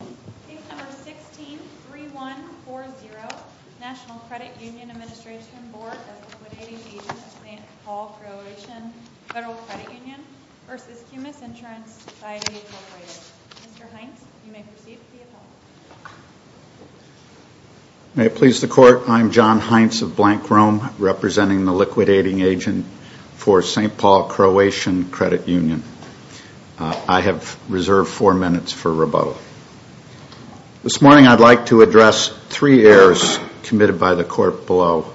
Case number 163140, National Credit Union Administration Board of Liquidating Agents of St. Paul Croatian Federal Credit Union v. Cumis Insurance Society Incorporated. Mr. Heintz, you may proceed with the appeal. May it please the Court, I am John Heintz of Blank Rome, representing the Liquidating Agent for St. Paul Croatian Credit Union. I have reserved four minutes for rebuttal. This morning I'd like to address three errors committed by the Court below.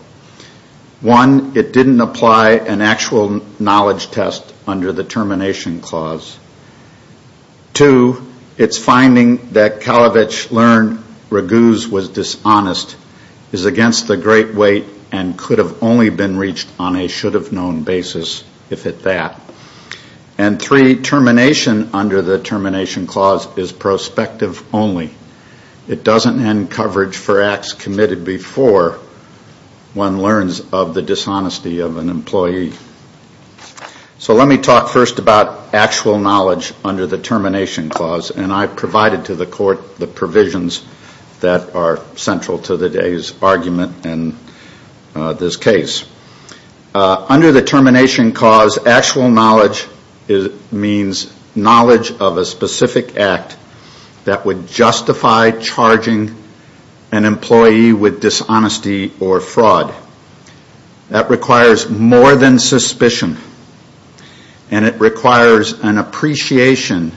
One, it didn't apply an actual knowledge test under the termination clause. Two, its finding that Kalavich learned Raguse was dishonest is against the great weight and could have only been reached on a should-have-known basis if it that. And three, termination under the termination clause is prospective only. It doesn't end coverage for acts committed before one learns of the dishonesty of an employee. So let me talk first about actual knowledge under the termination clause, and I've provided to the Court the provisions that are central to today's argument in this case. Under the termination clause, actual knowledge means knowledge of a specific act that would justify charging an employee with dishonesty or fraud. That requires more than suspicion, and it requires an appreciation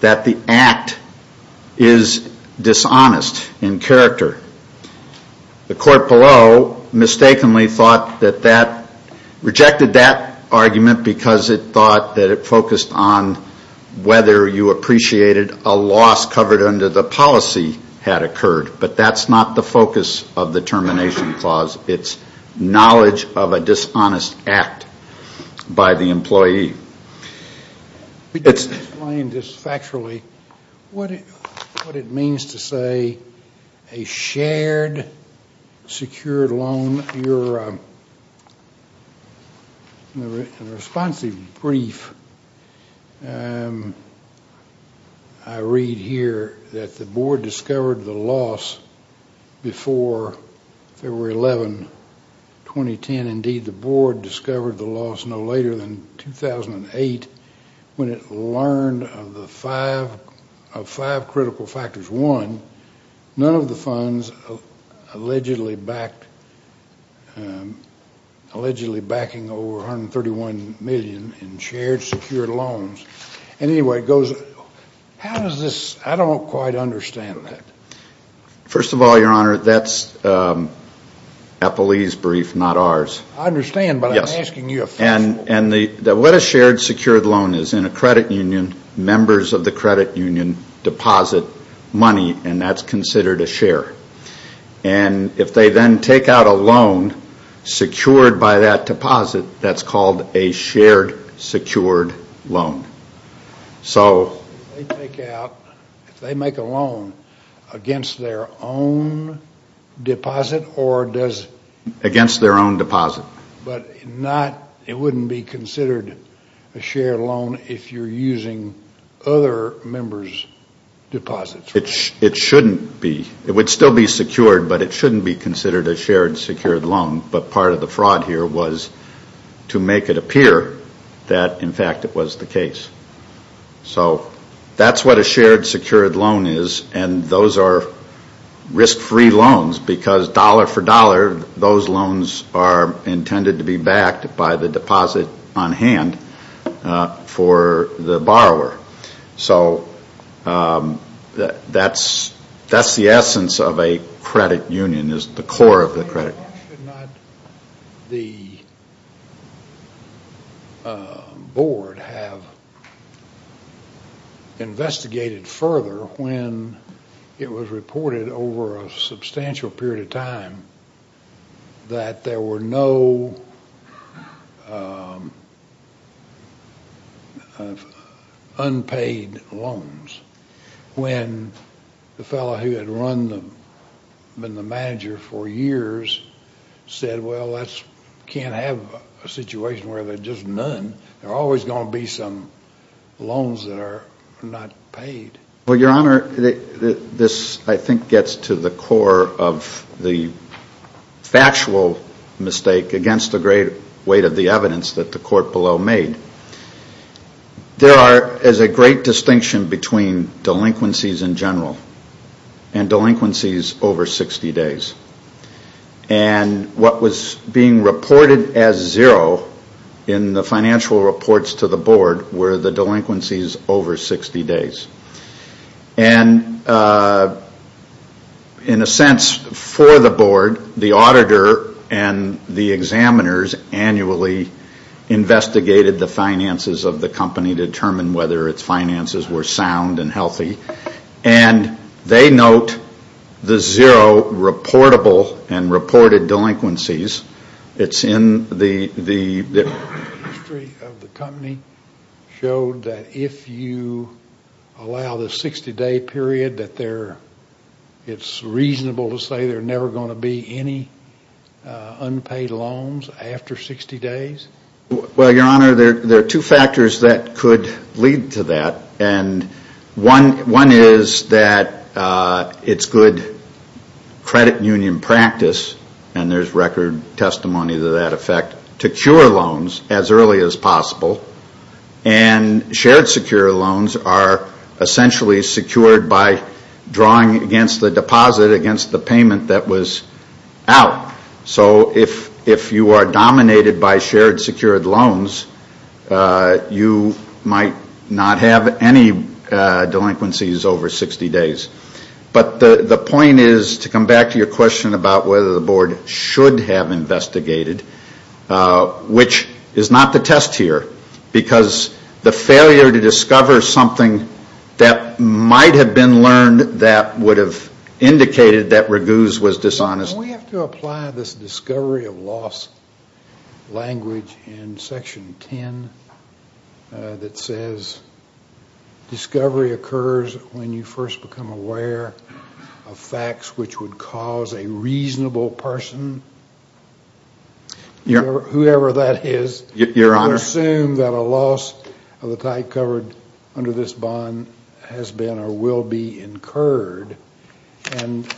that the act is dishonest in character. The Court below mistakenly thought that that, rejected that argument because it thought that it focused on whether you appreciated a loss covered under the policy had occurred. But that's not the focus of the termination clause. It's knowledge of a dishonest act by the employee. Explain just factually what it means to say a shared, secured loan. In your responsive brief, I read here that the Board discovered the loss before February 11, 2010. And indeed, the Board discovered the loss no later than 2008 when it learned of five critical factors. One, none of the funds allegedly backing over $131 million in shared, secured loans. And anyway, it goes, how does this? I don't quite understand that. First of all, Your Honor, that's Eppley's brief, not ours. I understand, but I'm asking you a factual question. What a shared, secured loan is, in a credit union, members of the credit union deposit money, and that's considered a share. And if they then take out a loan secured by that deposit, that's called a shared, secured loan. If they make a loan against their own deposit, but it wouldn't be considered a shared loan if you're using other members' deposits. It shouldn't be. It would still be secured, but it shouldn't be considered a shared, secured loan. But part of the fraud here was to make it appear that, in fact, it was the case. So that's what a shared, secured loan is, and those are risk-free loans because dollar for dollar, those loans are intended to be backed by the deposit on hand for the borrower. So that's the essence of a credit union is the core of the credit. Why should not the board have investigated further when it was reported over a substantial period of time that there were no unpaid loans, when the fellow who had been the manager for years said, well, that can't have a situation where there's just none. There are always going to be some loans that are not paid. Well, Your Honor, this I think gets to the core of the factual mistake against the great weight of the evidence that the court below made. There is a great distinction between delinquencies in general and delinquencies over 60 days. And what was being reported as zero in the financial reports to the board were the delinquencies over 60 days. And in a sense for the board, the auditor and the examiners annually investigated the finances of the company, determined whether its finances were sound and healthy, and they note the zero reportable and reported delinquencies. The history of the company showed that if you allow the 60-day period, that it's reasonable to say there are never going to be any unpaid loans after 60 days? Well, Your Honor, there are two factors that could lead to that. And one is that it's good credit union practice, and there's record testimony to that effect, to cure loans as early as possible. And shared secure loans are essentially secured by drawing against the deposit, against the payment that was out. So if you are dominated by shared secured loans, you might not have any delinquencies over 60 days. But the point is, to come back to your question about whether the board should have investigated, which is not the test here because the failure to discover something that might have been learned that would have indicated that Raguse was dishonest. Can we have to apply this discovery of loss language in Section 10 that says, discovery occurs when you first become aware of facts which would cause a reasonable person, whoever that is, to assume that a loss of the type covered under this bond has been or will be incurred? And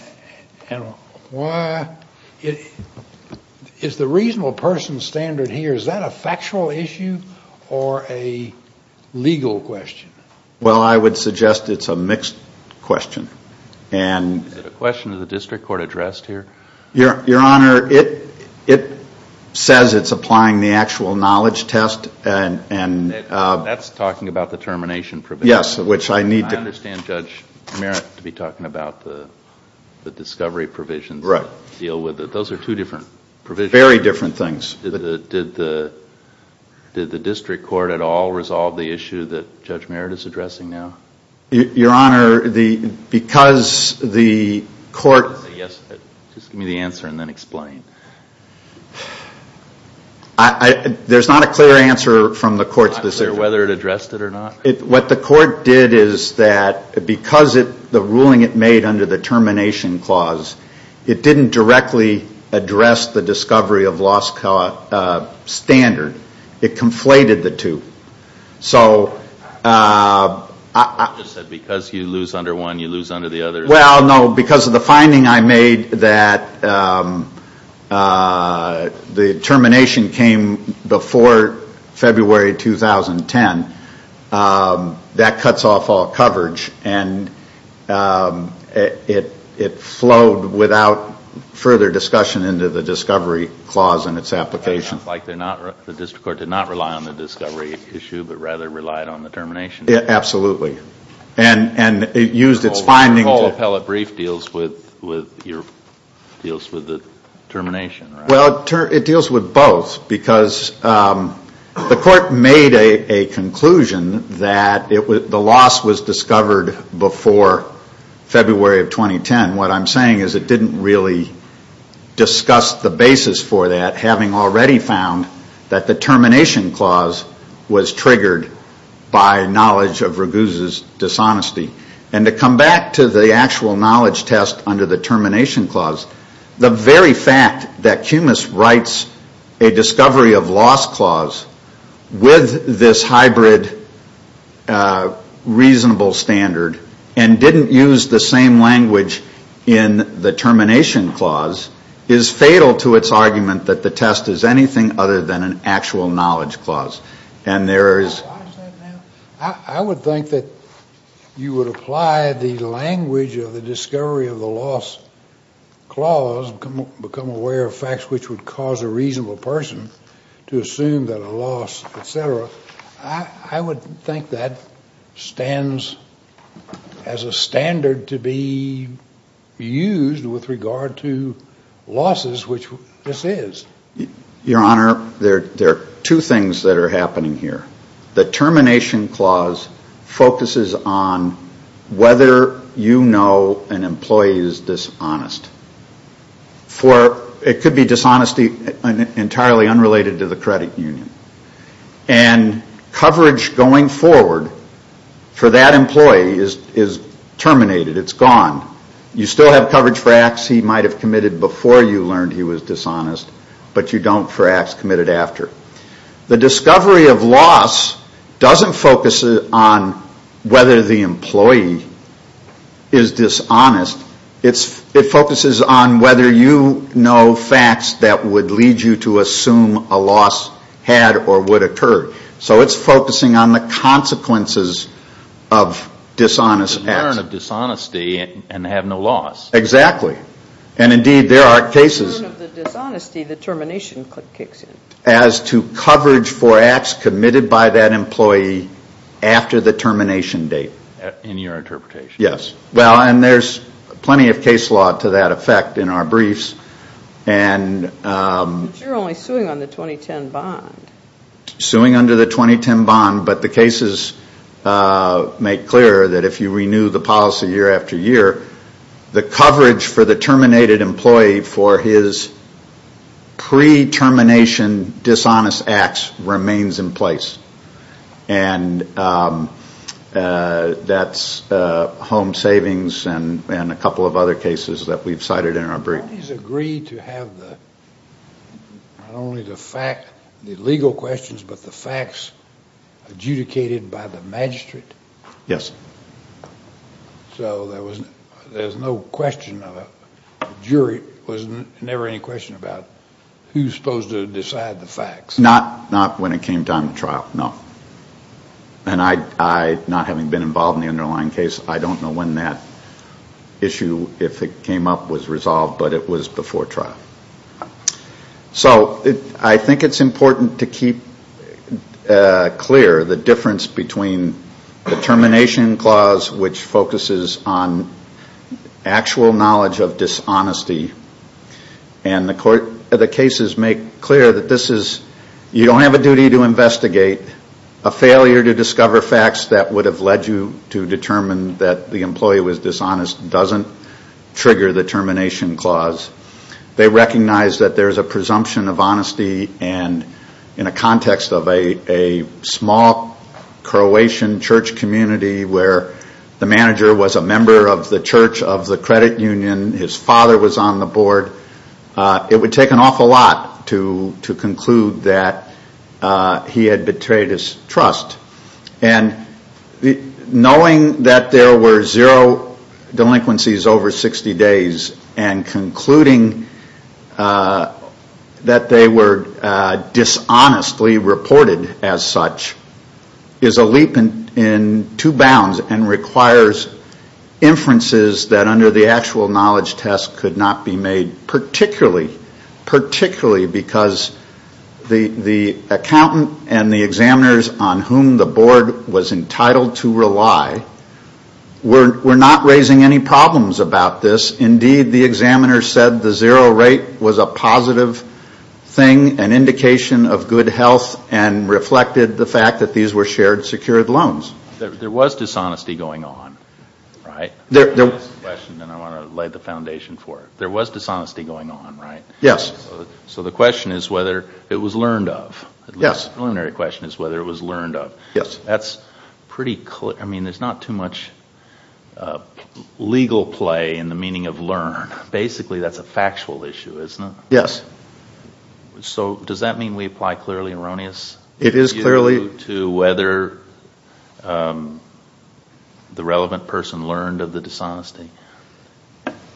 is the reasonable person standard here, is that a factual issue or a legal question? Well, I would suggest it's a mixed question. Is it a question of the district court addressed here? Your Honor, it says it's applying the actual knowledge test. That's talking about the termination provision. Yes, which I need to. I understand Judge Merritt to be talking about the discovery provisions that deal with it. Right. Those are two different provisions. Very different things. Did the district court at all resolve the issue that Judge Merritt is addressing now? Your Honor, because the court. Yes, just give me the answer and then explain. There's not a clear answer from the court's decision. Not clear whether it addressed it or not? What the court did is that because the ruling it made under the termination clause, it didn't directly address the discovery of loss standard. It conflated the two. So I. You just said because you lose under one, you lose under the other. Well, no, because of the finding I made that the termination came before February 2010. That cuts off all coverage and it flowed without further discussion into the discovery clause and its application. It sounds like the district court did not rely on the discovery issue but rather relied on the termination. Absolutely. And it used its findings. The whole appellate brief deals with the termination, right? Well, it deals with both because the court made a conclusion that the loss was discovered before February of 2010. What I'm saying is it didn't really discuss the basis for that, having already found that the termination clause was triggered by knowledge of Raguse's dishonesty. And to come back to the actual knowledge test under the termination clause, the very fact that Cumas writes a discovery of loss clause with this hybrid reasonable standard and didn't use the same language in the termination clause is fatal to its argument that the test is anything other than an actual knowledge clause. And there is. I would think that you would apply the language of the discovery of the loss clause, become aware of facts which would cause a reasonable person to assume that a loss, et cetera. I would think that stands as a standard to be used with regard to losses, which this is. Your Honor, there are two things that are happening here. The termination clause focuses on whether you know an employee is dishonest. It could be dishonesty entirely unrelated to the credit union. And coverage going forward for that employee is terminated. It's gone. You still have coverage for acts he might have committed before you learned he was dishonest, but you don't for acts committed after. The discovery of loss doesn't focus on whether the employee is dishonest. It focuses on whether you know facts that would lead you to assume a loss had or would occur. So it's focusing on the consequences of dishonest acts. The return of dishonesty and have no loss. Exactly. And, indeed, there are cases. The return of the dishonesty, the termination kicks in. As to coverage for acts committed by that employee after the termination date. In your interpretation. Yes. Well, and there's plenty of case law to that effect in our briefs. But you're only suing on the 2010 bond. Suing under the 2010 bond, but the cases make clear that if you renew the policy year after year, the coverage for the terminated employee for his pre-termination dishonest acts remains in place. And that's home savings and a couple of other cases that we've cited in our briefs. Do you agree to have not only the legal questions, but the facts adjudicated by the magistrate? Yes. So there's no question of a jury. There's never any question about who's supposed to decide the facts. Not when it came time to trial, no. And I, not having been involved in the underlying case, I don't know when that issue, if it came up, was resolved, but it was before trial. So I think it's important to keep clear the difference between the termination clause, which focuses on actual knowledge of dishonesty, and the cases make clear that you don't have a duty to investigate a failure to discover facts that would have led you to determine that the employee was dishonest doesn't trigger the termination clause. They recognize that there's a presumption of honesty, and in a context of a small Croatian church community where the manager was a member of the church of the credit union, his father was on the board, it would take an awful lot to conclude that he had betrayed his trust. And knowing that there were zero delinquencies over 60 days and concluding that they were dishonestly reported as such is a leap in two bounds and requires inferences that under the actual knowledge test could not be made, particularly because the accountant and the examiners on whom the board was entitled to rely were not raising any problems about this. Indeed, the examiners said the zero rate was a positive thing, an indication of good health, and reflected the fact that these were shared secured loans. There was dishonesty going on, right? That's the question I want to lay the foundation for. There was dishonesty going on, right? Yes. So the question is whether it was learned of. Yes. The preliminary question is whether it was learned of. Yes. That's pretty clear. I mean, there's not too much legal play in the meaning of learn. Basically, that's a factual issue, isn't it? Yes. So does that mean we apply clearly erroneous view to whether the relevant person learned of the dishonesty?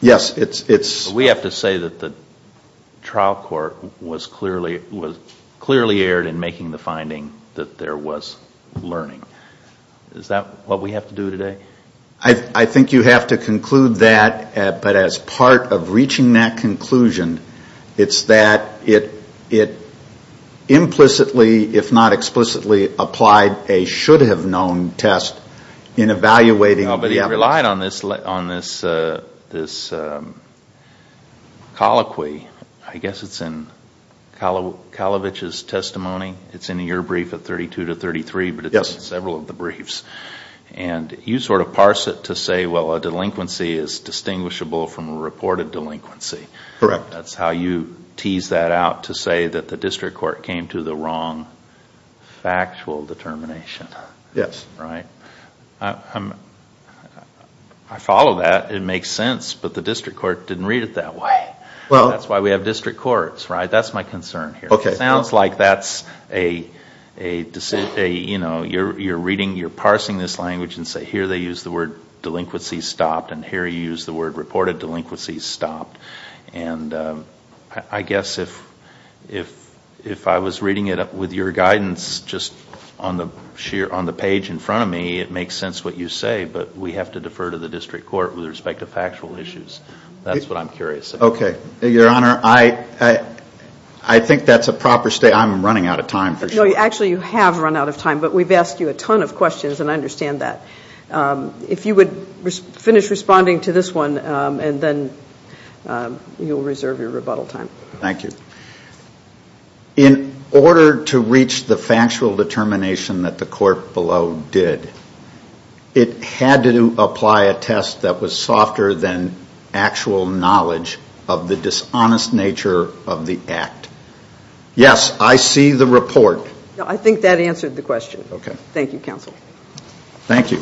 Yes. We have to say that the trial court was clearly erred in making the finding that there was learning. Is that what we have to do today? I think you have to conclude that, but as part of reaching that conclusion, it's that it implicitly, if not explicitly, applied a should-have-known test in evaluating the evidence. But it relied on this colloquy. I guess it's in Kalavich's testimony. It's in your brief of 32 to 33, but it's in several of the briefs. You parse it to say, well, a delinquency is distinguishable from a reported delinquency. Correct. That's how you tease that out to say that the district court came to the wrong factual determination. Yes. I follow that. It makes sense, but the district court didn't read it that way. That's why we have district courts. That's my concern here. Okay. It sounds like you're parsing this language and say here they use the word delinquency stopped and here you use the word reported delinquency stopped. I guess if I was reading it with your guidance just on the page in front of me, it makes sense what you say, but we have to defer to the district court with respect to factual issues. That's what I'm curious about. Okay. Your Honor, I think that's a proper statement. I'm running out of time for sure. Actually, you have run out of time, but we've asked you a ton of questions and I understand that. If you would finish responding to this one and then you'll reserve your rebuttal time. Thank you. In order to reach the factual determination that the court below did, it had to apply a test that was softer than actual knowledge of the dishonest nature of the act. Yes, I see the report. I think that answered the question. Thank you, counsel. Thank you.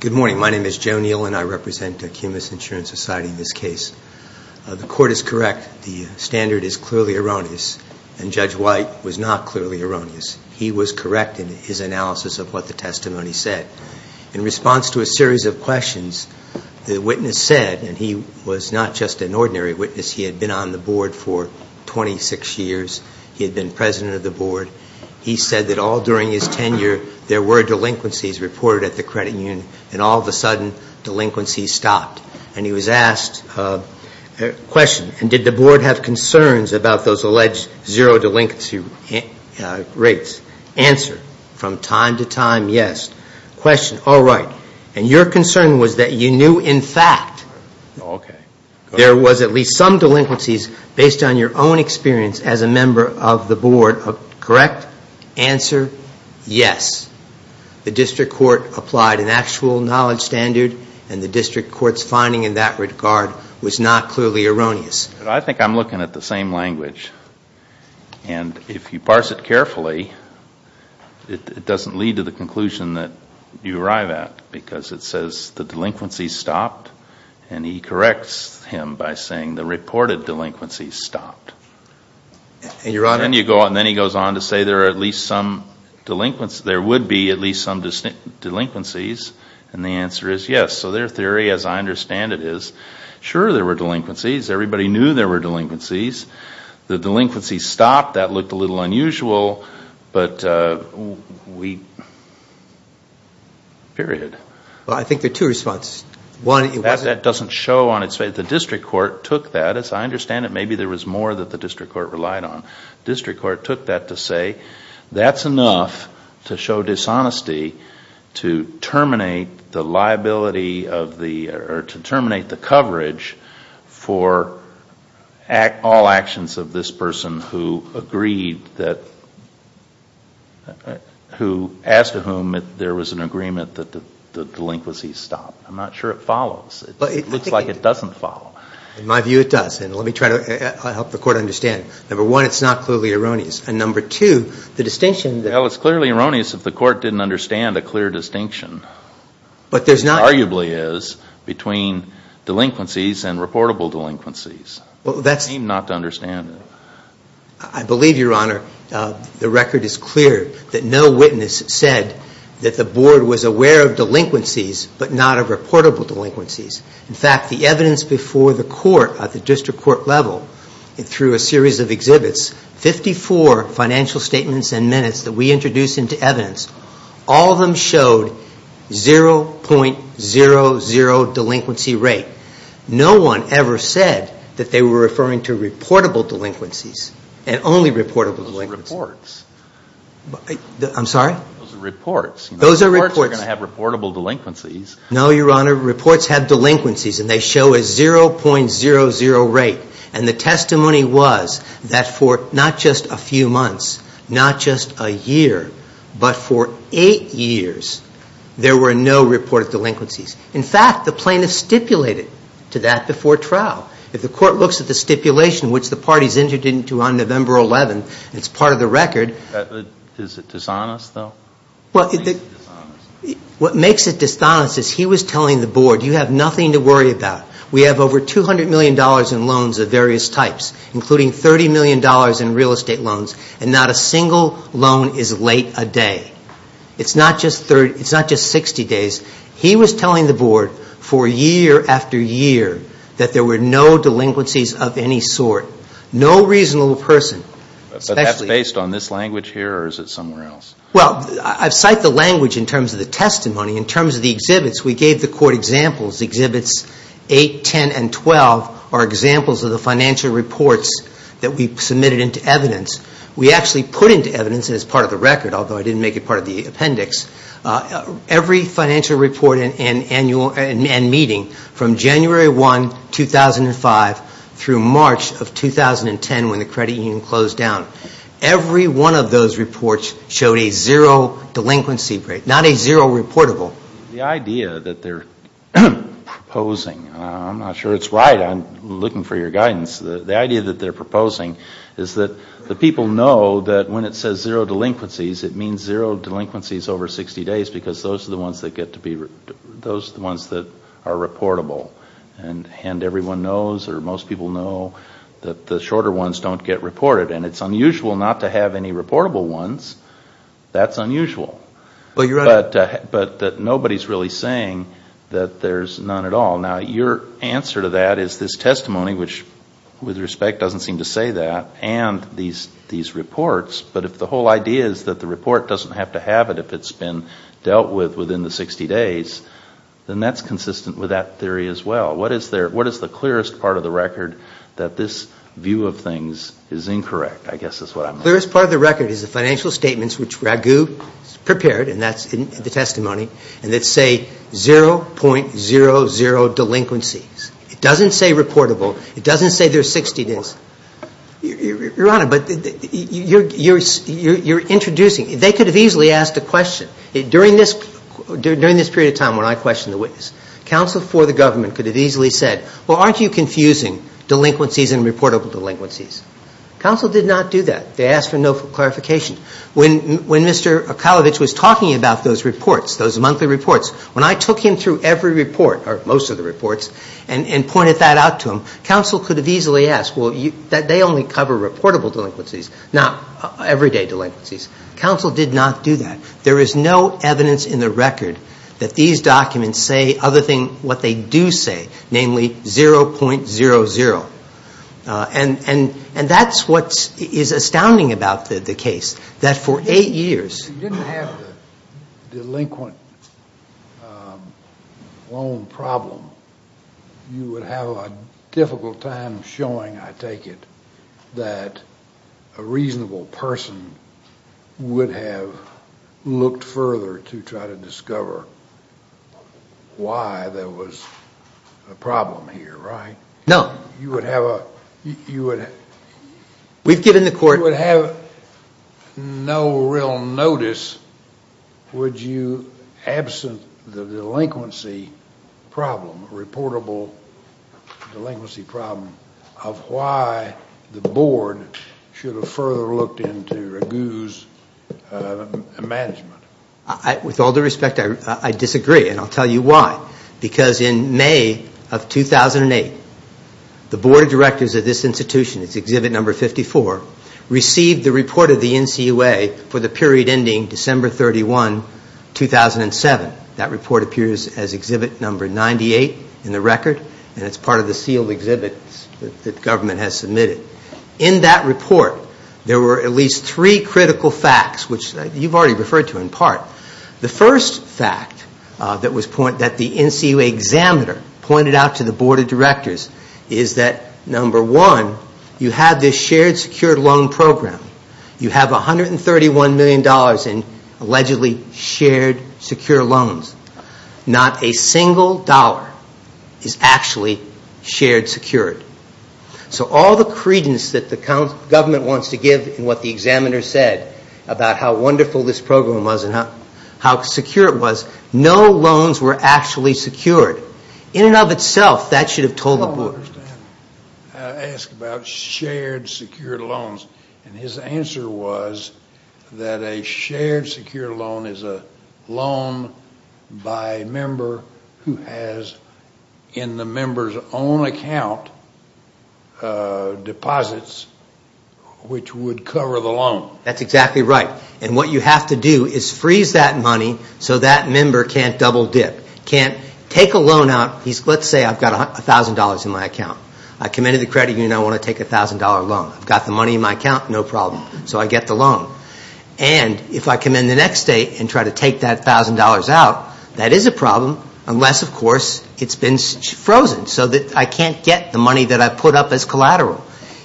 Good morning. My name is Joe Neal and I represent Acumas Insurance Society in this case. The court is correct. The standard is clearly erroneous and Judge White was not clearly erroneous. He was correct in his analysis of what the testimony said. In response to a series of questions, the witness said, and he was not just an ordinary witness, he had been on the board for 26 years. He had been president of the board. He said that all during his tenure there were delinquencies reported at the credit union and all of a sudden delinquencies stopped. And he was asked a question, and did the board have concerns about those alleged zero delinquency rates? Answer, from time to time, yes. Question, all right. And your concern was that you knew in fact there was at least some delinquencies based on your own experience as a member of the board, correct? Answer, yes. The district court applied an actual knowledge standard and the district court's finding in that regard was not clearly erroneous. I think I'm looking at the same language. And if you parse it carefully, it doesn't lead to the conclusion that you arrive at because it says the delinquencies stopped and he corrects him by saying the reported delinquencies stopped. And then he goes on to say there are at least some delinquencies, there would be at least some delinquencies, and the answer is yes. So their theory, as I understand it, is sure there were delinquencies. Everybody knew there were delinquencies. The delinquencies stopped. That looked a little unusual, but we, period. Well, I think there are two responses. One, it wasn't. That doesn't show on its face. The district court took that. As I understand it, maybe there was more that the district court relied on. The district court took that to say that's enough to show dishonesty to terminate the liability of the or to terminate the coverage for all actions of this person who agreed that, who asked whom if there was an agreement that the delinquencies stopped. I'm not sure it follows. It looks like it doesn't follow. In my view, it does. And let me try to help the court understand. Number one, it's not clearly erroneous. And number two, the distinction. Well, it's clearly erroneous if the court didn't understand a clear distinction. But there's not. Arguably is between delinquencies and reportable delinquencies. Well, that's. They seem not to understand it. I believe, Your Honor, the record is clear that no witness said that the board was aware of delinquencies but not of reportable delinquencies. In fact, the evidence before the court at the district court level through a series of exhibits, 54 financial statements and minutes that we introduced into evidence, all of them showed 0.00 delinquency rate. No one ever said that they were referring to reportable delinquencies and only reportable delinquencies. Those are reports. I'm sorry? Those are reports. Those are reports. Reports are going to have reportable delinquencies. No, Your Honor. Reports have delinquencies, and they show a 0.00 rate. And the testimony was that for not just a few months, not just a year, but for eight years, there were no reported delinquencies. In fact, the plaintiff stipulated to that before trial. If the court looks at the stipulation, which the parties entered into on November 11th, it's part of the record. Is it dishonest, though? Well, what makes it dishonest is he was telling the board, you have nothing to worry about. We have over $200 million in loans of various types, including $30 million in real estate loans, and not a single loan is late a day. It's not just 60 days. He was telling the board for year after year that there were no delinquencies of any sort, no reasonable person. But that's based on this language here, or is it somewhere else? Well, I've cited the language in terms of the testimony. In terms of the exhibits, we gave the court examples. Exhibits 8, 10, and 12 are examples of the financial reports that we submitted into evidence. We actually put into evidence, and it's part of the record, although I didn't make it part of the appendix, every financial report and meeting from January 1, 2005, through March of 2010 when the credit union closed down, every one of those reports showed a zero delinquency rate, not a zero reportable. The idea that they're proposing, I'm not sure it's right. I'm looking for your guidance. The idea that they're proposing is that the people know that when it says zero delinquencies, it means zero delinquencies over 60 days because those are the ones that are reportable. And everyone knows, or most people know, that the shorter ones don't get reported. And it's unusual not to have any reportable ones. That's unusual. But nobody's really saying that there's none at all. Now, your answer to that is this testimony, which with respect doesn't seem to say that, and these reports. But if the whole idea is that the report doesn't have to have it if it's been dealt with within the 60 days, then that's consistent with that theory as well. What is the clearest part of the record that this view of things is incorrect? I guess that's what I'm asking. The clearest part of the record is the financial statements which Ragu prepared, and that's in the testimony, and that say 0.00 delinquencies. It doesn't say reportable. It doesn't say there's 60 days. Your Honor, but you're introducing. They could have easily asked a question. During this period of time when I questioned the witness, counsel for the government could have easily said, well, aren't you confusing delinquencies and reportable delinquencies? Counsel did not do that. They asked for no clarification. When Mr. Akalovich was talking about those reports, those monthly reports, when I took him through every report, or most of the reports, and pointed that out to him, counsel could have easily asked, well, they only cover reportable delinquencies, not everyday delinquencies. Counsel did not do that. There is no evidence in the record that these documents say other than what they do say, namely 0.00. And that's what is astounding about the case, that for eight years. If you didn't have the delinquent loan problem, you would have a difficult time showing, I take it, that a reasonable person would have looked further to try to discover why there was a problem here, right? No. You would have a... We've given the court... You would have no real notice, would you, absent the delinquency problem, reportable delinquency problem, of why the board should have further looked into Raghu's management. With all due respect, I disagree, and I'll tell you why. Because in May of 2008, the board of directors of this institution, Exhibit No. 54, received the report of the NCUA for the period ending December 31, 2007. That report appears as Exhibit No. 98 in the record, and it's part of the sealed exhibit that the government has submitted. In that report, there were at least three critical facts, which you've already referred to in part. The first fact that the NCUA examiner pointed out to the board of directors is that, number one, you have this shared secured loan program. You have $131 million in allegedly shared secure loans. Not a single dollar is actually shared secured. So all the credence that the government wants to give in what the examiner said about how wonderful this program was and how secure it was, no loans were actually secured. In and of itself, that should have told the board. I don't understand how to ask about shared secured loans. And his answer was that a shared secured loan is a loan by a member who has, in the member's own account, deposits which would cover the loan. That's exactly right. And what you have to do is freeze that money so that member can't double dip, can't take a loan out. Let's say I've got $1,000 in my account. I come into the credit union. I want to take a $1,000 loan. I've got the money in my account, no problem. So I get the loan. And if I come in the next day and try to take that $1,000 out, that is a problem, unless, of course, it's been frozen so that I can't get the money that I put up as collateral.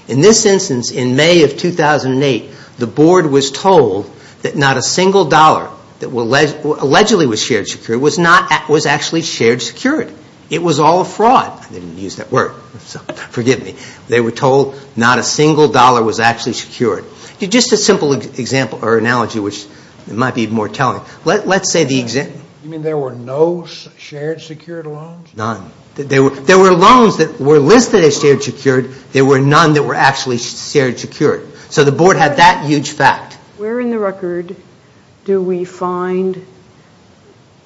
In this instance, in May of 2008, the board was told that not a single dollar that allegedly was shared secured was actually shared secured. It was all a fraud. I didn't use that word. Forgive me. They were told not a single dollar was actually secured. Just a simple example or analogy, which might be more telling. Let's say the example. You mean there were no shared secured loans? None. There were loans that were listed as shared secured. There were none that were actually shared secured. So the board had that huge fact. Where in the record do we find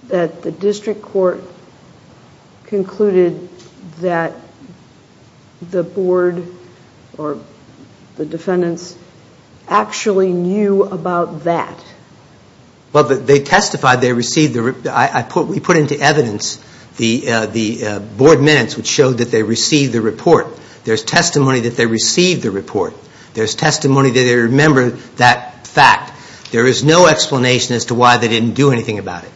that the district court concluded that the board or the defendants actually knew about that? Well, they testified they received the report. We put into evidence the board minutes which showed that they received the report. There's testimony that they received the report. There's testimony that they remembered that fact. There is no explanation as to why they didn't do anything about it.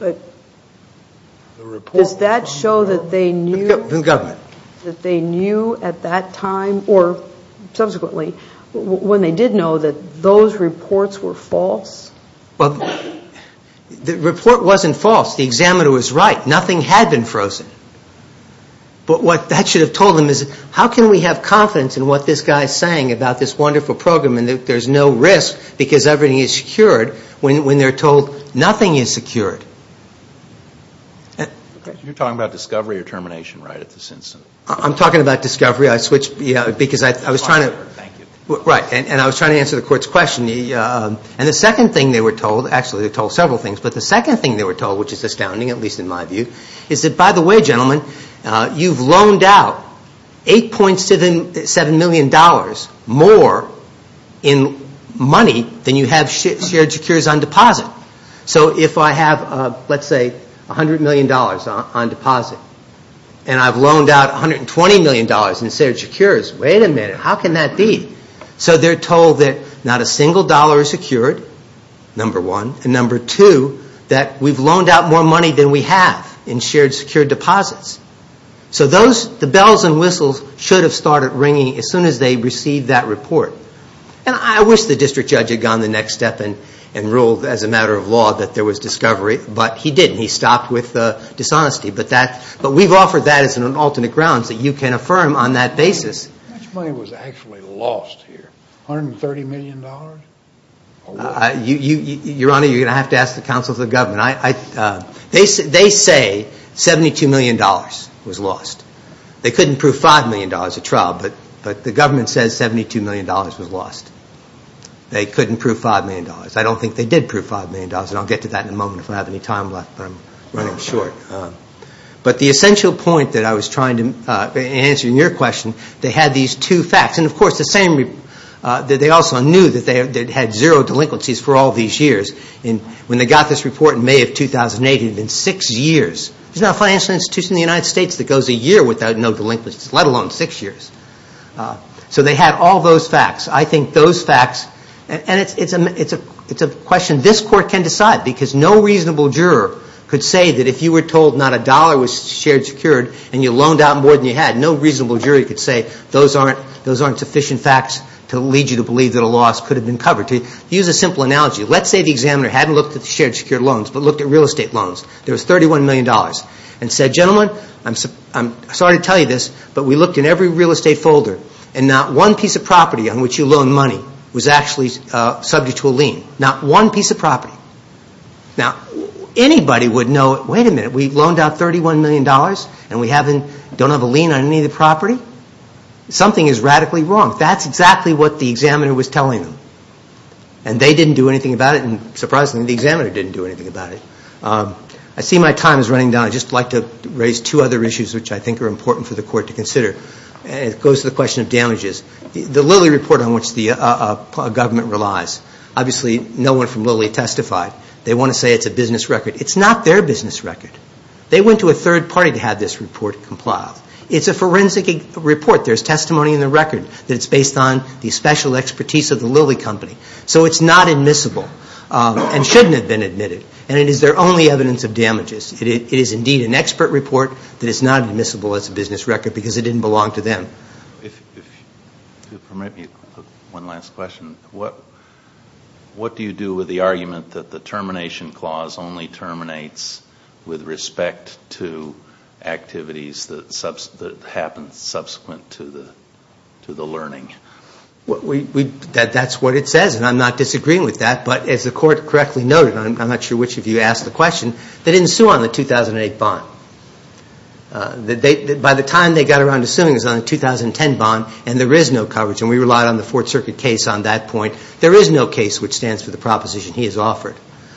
But does that show that they knew at that time or subsequently, when they did know, that those reports were false? Well, the report wasn't false. The examiner was right. Nothing had been frozen. But what that should have told them is how can we have confidence in what this guy is saying about this wonderful program and that there's no risk because everything is secured when they're told nothing is secured? You're talking about discovery or termination right at this instant? I'm talking about discovery. I switched because I was trying to answer the court's question. And the second thing they were told, actually they were told several things, but the second thing they were told, which is astounding at least in my view, is that, by the way, gentlemen, you've loaned out $8.7 million more in money than you have shared securities on deposit. So if I have, let's say, $100 million on deposit and I've loaned out $120 million in shared securities, wait a minute, how can that be? So they're told that not a single dollar is secured, number one, and number two, that we've loaned out more money than we have in shared secured deposits. So the bells and whistles should have started ringing as soon as they received that report. And I wish the district judge had gone the next step and ruled as a matter of law that there was discovery, but he didn't. He stopped with dishonesty. But we've offered that as an alternate grounds that you can affirm on that basis. How much money was actually lost here? $130 million? Your Honor, you're going to have to ask the counsel of the government. They say $72 million was lost. They couldn't prove $5 million at trial, but the government says $72 million was lost. They couldn't prove $5 million. I don't think they did prove $5 million, and I'll get to that in a moment if I have any time left, but I'm running short. But the essential point that I was trying to answer in your question, they had these two facts. And, of course, they also knew that they had zero delinquencies for all these years. When they got this report in May of 2008, it had been six years. There's no financial institution in the United States that goes a year without no delinquencies, let alone six years. So they had all those facts. I think those facts, and it's a question this Court can decide because no reasonable juror could say that if you were told not a dollar was shared secured and you loaned out more than you had, no reasonable juror could say those aren't sufficient facts to lead you to believe that a loss could have been covered. To use a simple analogy, let's say the examiner hadn't looked at the shared secured loans, but looked at real estate loans. There was $31 million and said, gentlemen, I'm sorry to tell you this, but we looked in every real estate folder and not one piece of property on which you loaned money was actually subject to a lien. Not one piece of property. Now, anybody would know, wait a minute, we loaned out $31 million and we don't have a lien on any of the property? Something is radically wrong. That's exactly what the examiner was telling them. And they didn't do anything about it, and surprisingly the examiner didn't do anything about it. I see my time is running down. I'd just like to raise two other issues which I think are important for the Court to consider. It goes to the question of damages. The Lilly Report on which the government relies, obviously no one from Lilly testified. They want to say it's a business record. It's not their business record. They went to a third party to have this report complied. It's a forensic report. There's testimony in the record that it's based on the special expertise of the Lilly Company. So it's not admissible and shouldn't have been admitted. And it is their only evidence of damages. It is indeed an expert report that is not admissible as a business record because it didn't belong to them. If you'll permit me, one last question. What do you do with the argument that the termination clause only terminates with respect to activities that happened subsequent to the learning? That's what it says, and I'm not disagreeing with that. But as the Court correctly noted, and I'm not sure which of you asked the question, they didn't sue on the 2008 bond. By the time they got around to suing, it was on the 2010 bond, and there is no coverage. And we relied on the Fourth Circuit case on that point. There is no case which stands for the proposition he has offered.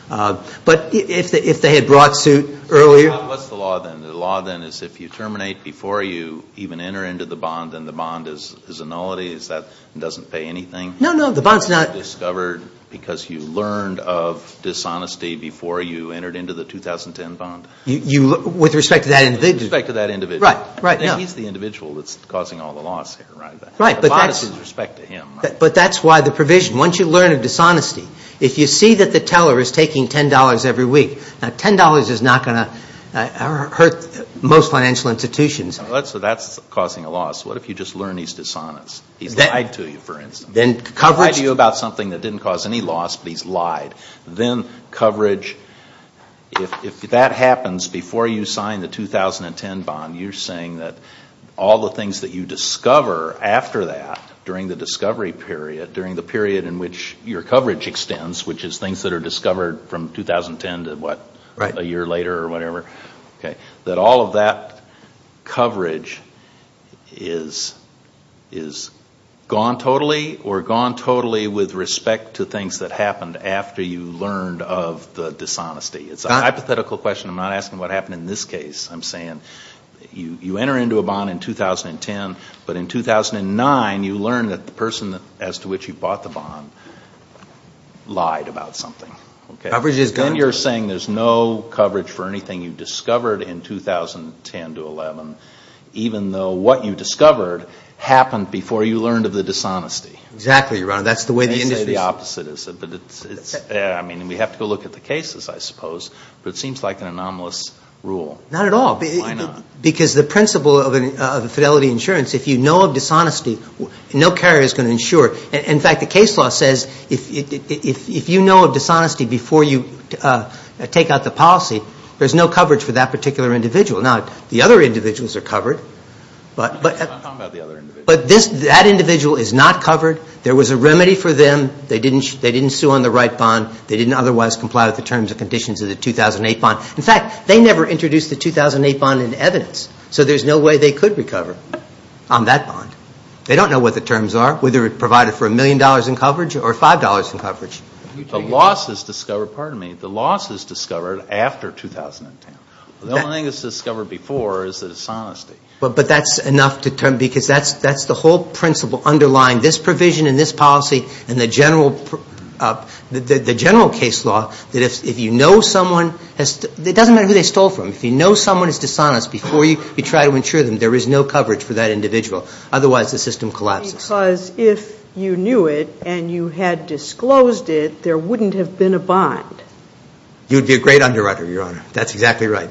But if they had brought suit earlier – What's the law then? The law then is if you terminate before you even enter into the bond, then the bond is annullity? Is that it doesn't pay anything? No, no, the bond's not – Discovered because you learned of dishonesty before you entered into the 2010 bond? With respect to that individual? With respect to that individual. Right, right, no. He's the individual that's causing all the loss here, right? Right, but that's – The bond is with respect to him. But that's why the provision, once you learn of dishonesty, if you see that the teller is taking $10 every week, now $10 is not going to hurt most financial institutions. So that's causing a loss. What if you just learn he's dishonest? He's lied to you, for instance. Then coverage – He lied to you about something that didn't cause any loss, but he's lied. Then coverage – if that happens before you sign the 2010 bond, you're saying that all the things that you discover after that, during the discovery period, during the period in which your coverage extends, which is things that are discovered from 2010 to, what, a year later or whatever, that all of that coverage is gone totally or gone totally with respect to things that happened after you learned of the dishonesty. It's a hypothetical question. I'm not asking what happened in this case. I'm saying you enter into a bond in 2010, but in 2009, you learn that the person as to which you bought the bond lied about something. Coverage is gone. 2010 to 2011, even though what you discovered happened before you learned of the dishonesty. Exactly, Your Honor. That's the way the industry is. I say the opposite. I mean, we have to go look at the cases, I suppose, but it seems like an anomalous rule. Not at all. Why not? Because the principle of fidelity insurance, if you know of dishonesty, no carrier is going to insure. In fact, the case law says if you know of dishonesty before you take out the policy, there's no coverage for that particular individual. Now, the other individuals are covered, but that individual is not covered. There was a remedy for them. They didn't sue on the right bond. They didn't otherwise comply with the terms and conditions of the 2008 bond. In fact, they never introduced the 2008 bond in evidence, so there's no way they could recover on that bond. They don't know what the terms are, whether it provided for $1 million in coverage or $5 in coverage. The loss is discovered after 2010. The only thing that's discovered before is the dishonesty. But that's enough because that's the whole principle underlying this provision in this policy and the general case law that if you know someone, it doesn't matter who they stole from, if you know someone is dishonest before you try to insure them, there is no coverage for that individual. Otherwise, the system collapses. Because if you knew it and you had disclosed it, there wouldn't have been a bond. You'd be a great underwriter, Your Honor. That's exactly right.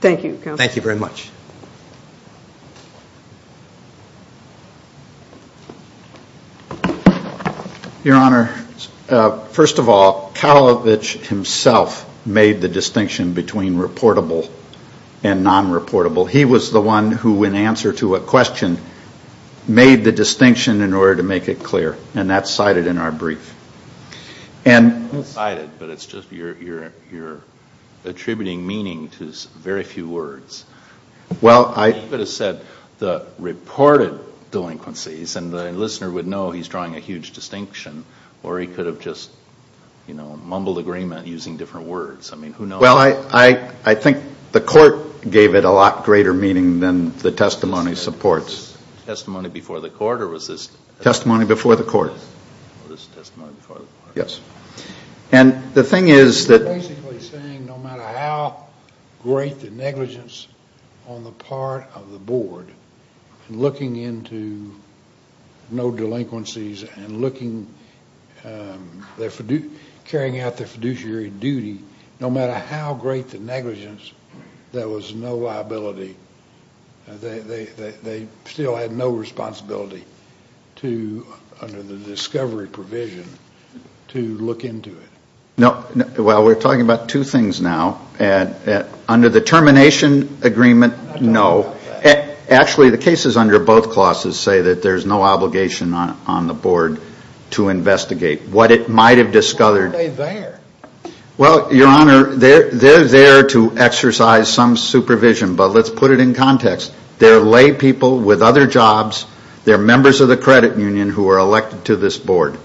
Thank you, Counsel. Thank you very much. Your Honor, first of all, Kalovitch himself made the distinction between reportable and non-reportable. He was the one who, in answer to a question, made the distinction in order to make it clear, and that's cited in our brief. It's not cited, but it's just you're attributing meaning to very few words. You could have said the reported delinquencies, and the listener would know he's drawing a huge distinction, or he could have just mumbled agreement using different words. I mean, who knows? Well, I think the court gave it a lot greater meaning than the testimony supports. Testimony before the court, or was this testimony before the court? It was testimony before the court. Yes. And the thing is that... They're basically saying no matter how great the negligence on the part of the board, looking into no delinquencies and carrying out their fiduciary duty, no matter how great the negligence, there was no liability. They still had no responsibility under the discovery provision to look into it. Well, we're talking about two things now. Under the termination agreement, no. Actually, the cases under both clauses say that there's no obligation on the board to investigate what it might have discovered. Why are they there? Well, Your Honor, they're there to exercise some supervision, but let's put it in context. They're lay people with other jobs. They're members of the credit union who are elected to this board.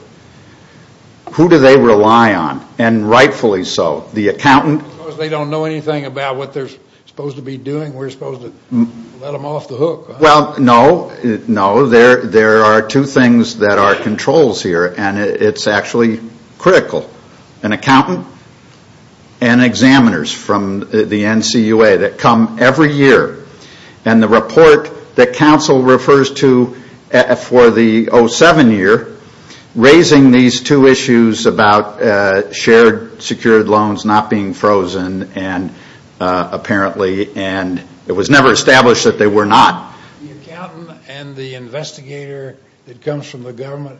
Who do they rely on, and rightfully so, the accountant? They don't know anything about what they're supposed to be doing. We're supposed to let them off the hook. Well, no, no. There are two things that are controls here, and it's actually critical. An accountant and examiners from the NCUA that come every year, and the report that counsel refers to for the 07 year, raising these two issues about shared secured loans not being frozen, apparently, and it was never established that they were not. The accountant and the investigator that comes from the government,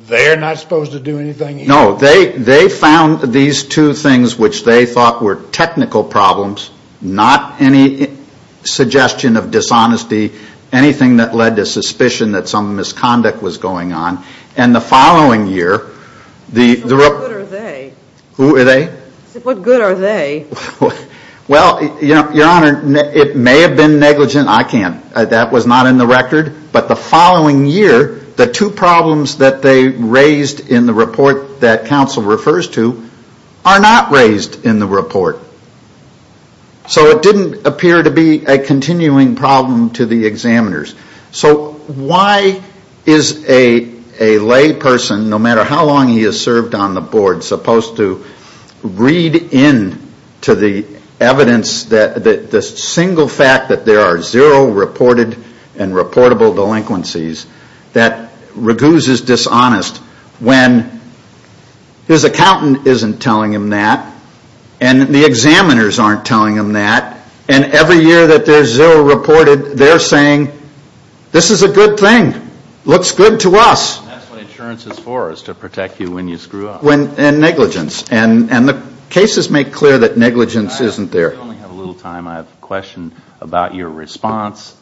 they're not supposed to do anything here? No, they found these two things which they thought were technical problems, not any suggestion of dishonesty, anything that led to suspicion that some misconduct was going on, and the following year... So what good are they? Who are they? What good are they? Well, Your Honor, it may have been negligent. I can't. That was not in the record, but the following year, the two problems that they raised in the report that counsel refers to are not raised in the report. So it didn't appear to be a continuing problem to the examiners. So why is a lay person, no matter how long he has served on the board, supposed to read in to the evidence, the single fact that there are zero reported and reportable delinquencies, that Raguse is dishonest when his accountant isn't telling him that, and the examiners aren't telling him that, and every year that there's zero reported, they're saying, this is a good thing, looks good to us. That's what insurance is for, is to protect you when you screw up. And negligence, and the cases make clear that negligence isn't there. I only have a little time. I have a question about your response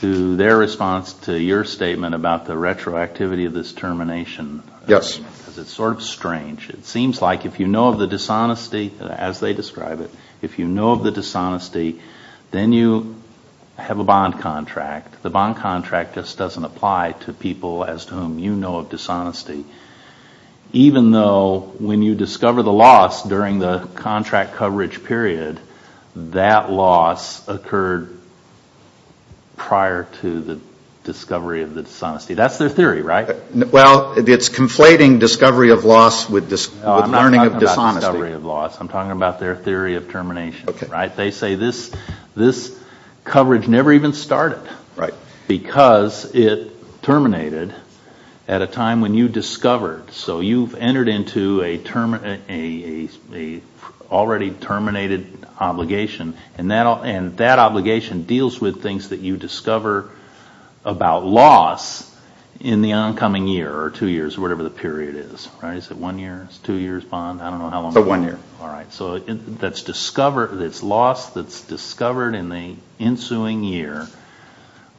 to their response to your statement about the retroactivity of this termination. Yes. Because it's sort of strange. It seems like if you know of the dishonesty, as they describe it, if you know of the dishonesty, then you have a bond contract. The bond contract just doesn't apply to people as to whom you know of dishonesty, even though when you discover the loss during the contract coverage period, that loss occurred prior to the discovery of the dishonesty. That's their theory, right? Well, it's conflating discovery of loss with learning of dishonesty. I'm not talking about discovery of loss. I'm talking about their theory of termination. They say this coverage never even started because it terminated at a time when you discovered. So you've entered into an already terminated obligation, and that obligation deals with things that you discover about loss in the oncoming year or two years, whatever the period is. Is it one year? Is it two years bond? I don't know how long. One year. All right. So it's loss that's discovered in the ensuing year,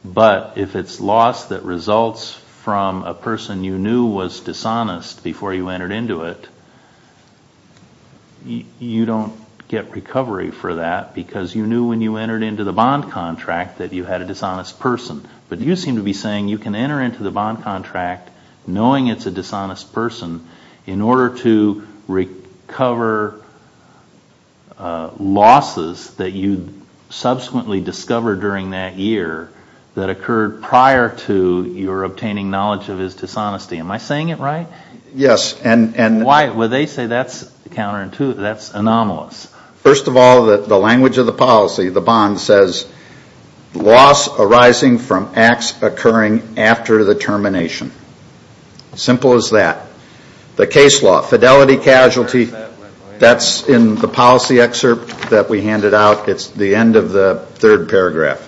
but if it's loss that results from a person you knew was dishonest before you entered into it, you don't get recovery for that because you knew when you entered into the bond contract that you had a dishonest person. But you seem to be saying you can enter into the bond contract knowing it's a dishonest person in order to recover losses that you subsequently discovered during that year that occurred prior to your obtaining knowledge of his dishonesty. Am I saying it right? Yes. Well, they say that's counterintuitive. That's anomalous. First of all, the language of the policy, the bond, says loss arising from acts occurring after the termination. Simple as that. The case law, fidelity, casualty, that's in the policy excerpt that we handed out. It's the end of the third paragraph.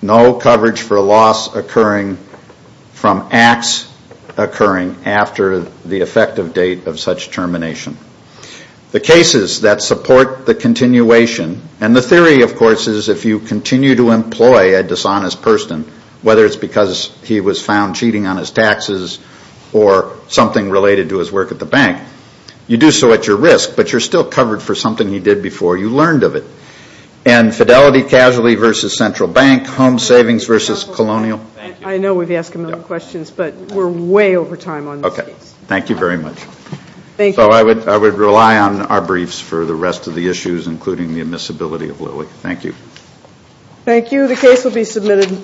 No coverage for loss occurring from acts occurring after the effective date of such termination. The cases that support the continuation, and the theory, of course, is if you continue to employ a dishonest person, whether it's because he was found cheating on his taxes or something related to his work at the bank, you do so at your risk, but you're still covered for something he did before you learned of it. Fidelity, casualty versus central bank. Home savings versus colonial. I know we've asked a million questions, but we're way over time on this case. Thank you very much. Thank you. I would rely on our briefs for the rest of the issues, including the admissibility of Lilly. Thank you. Thank you. The case will be submitted.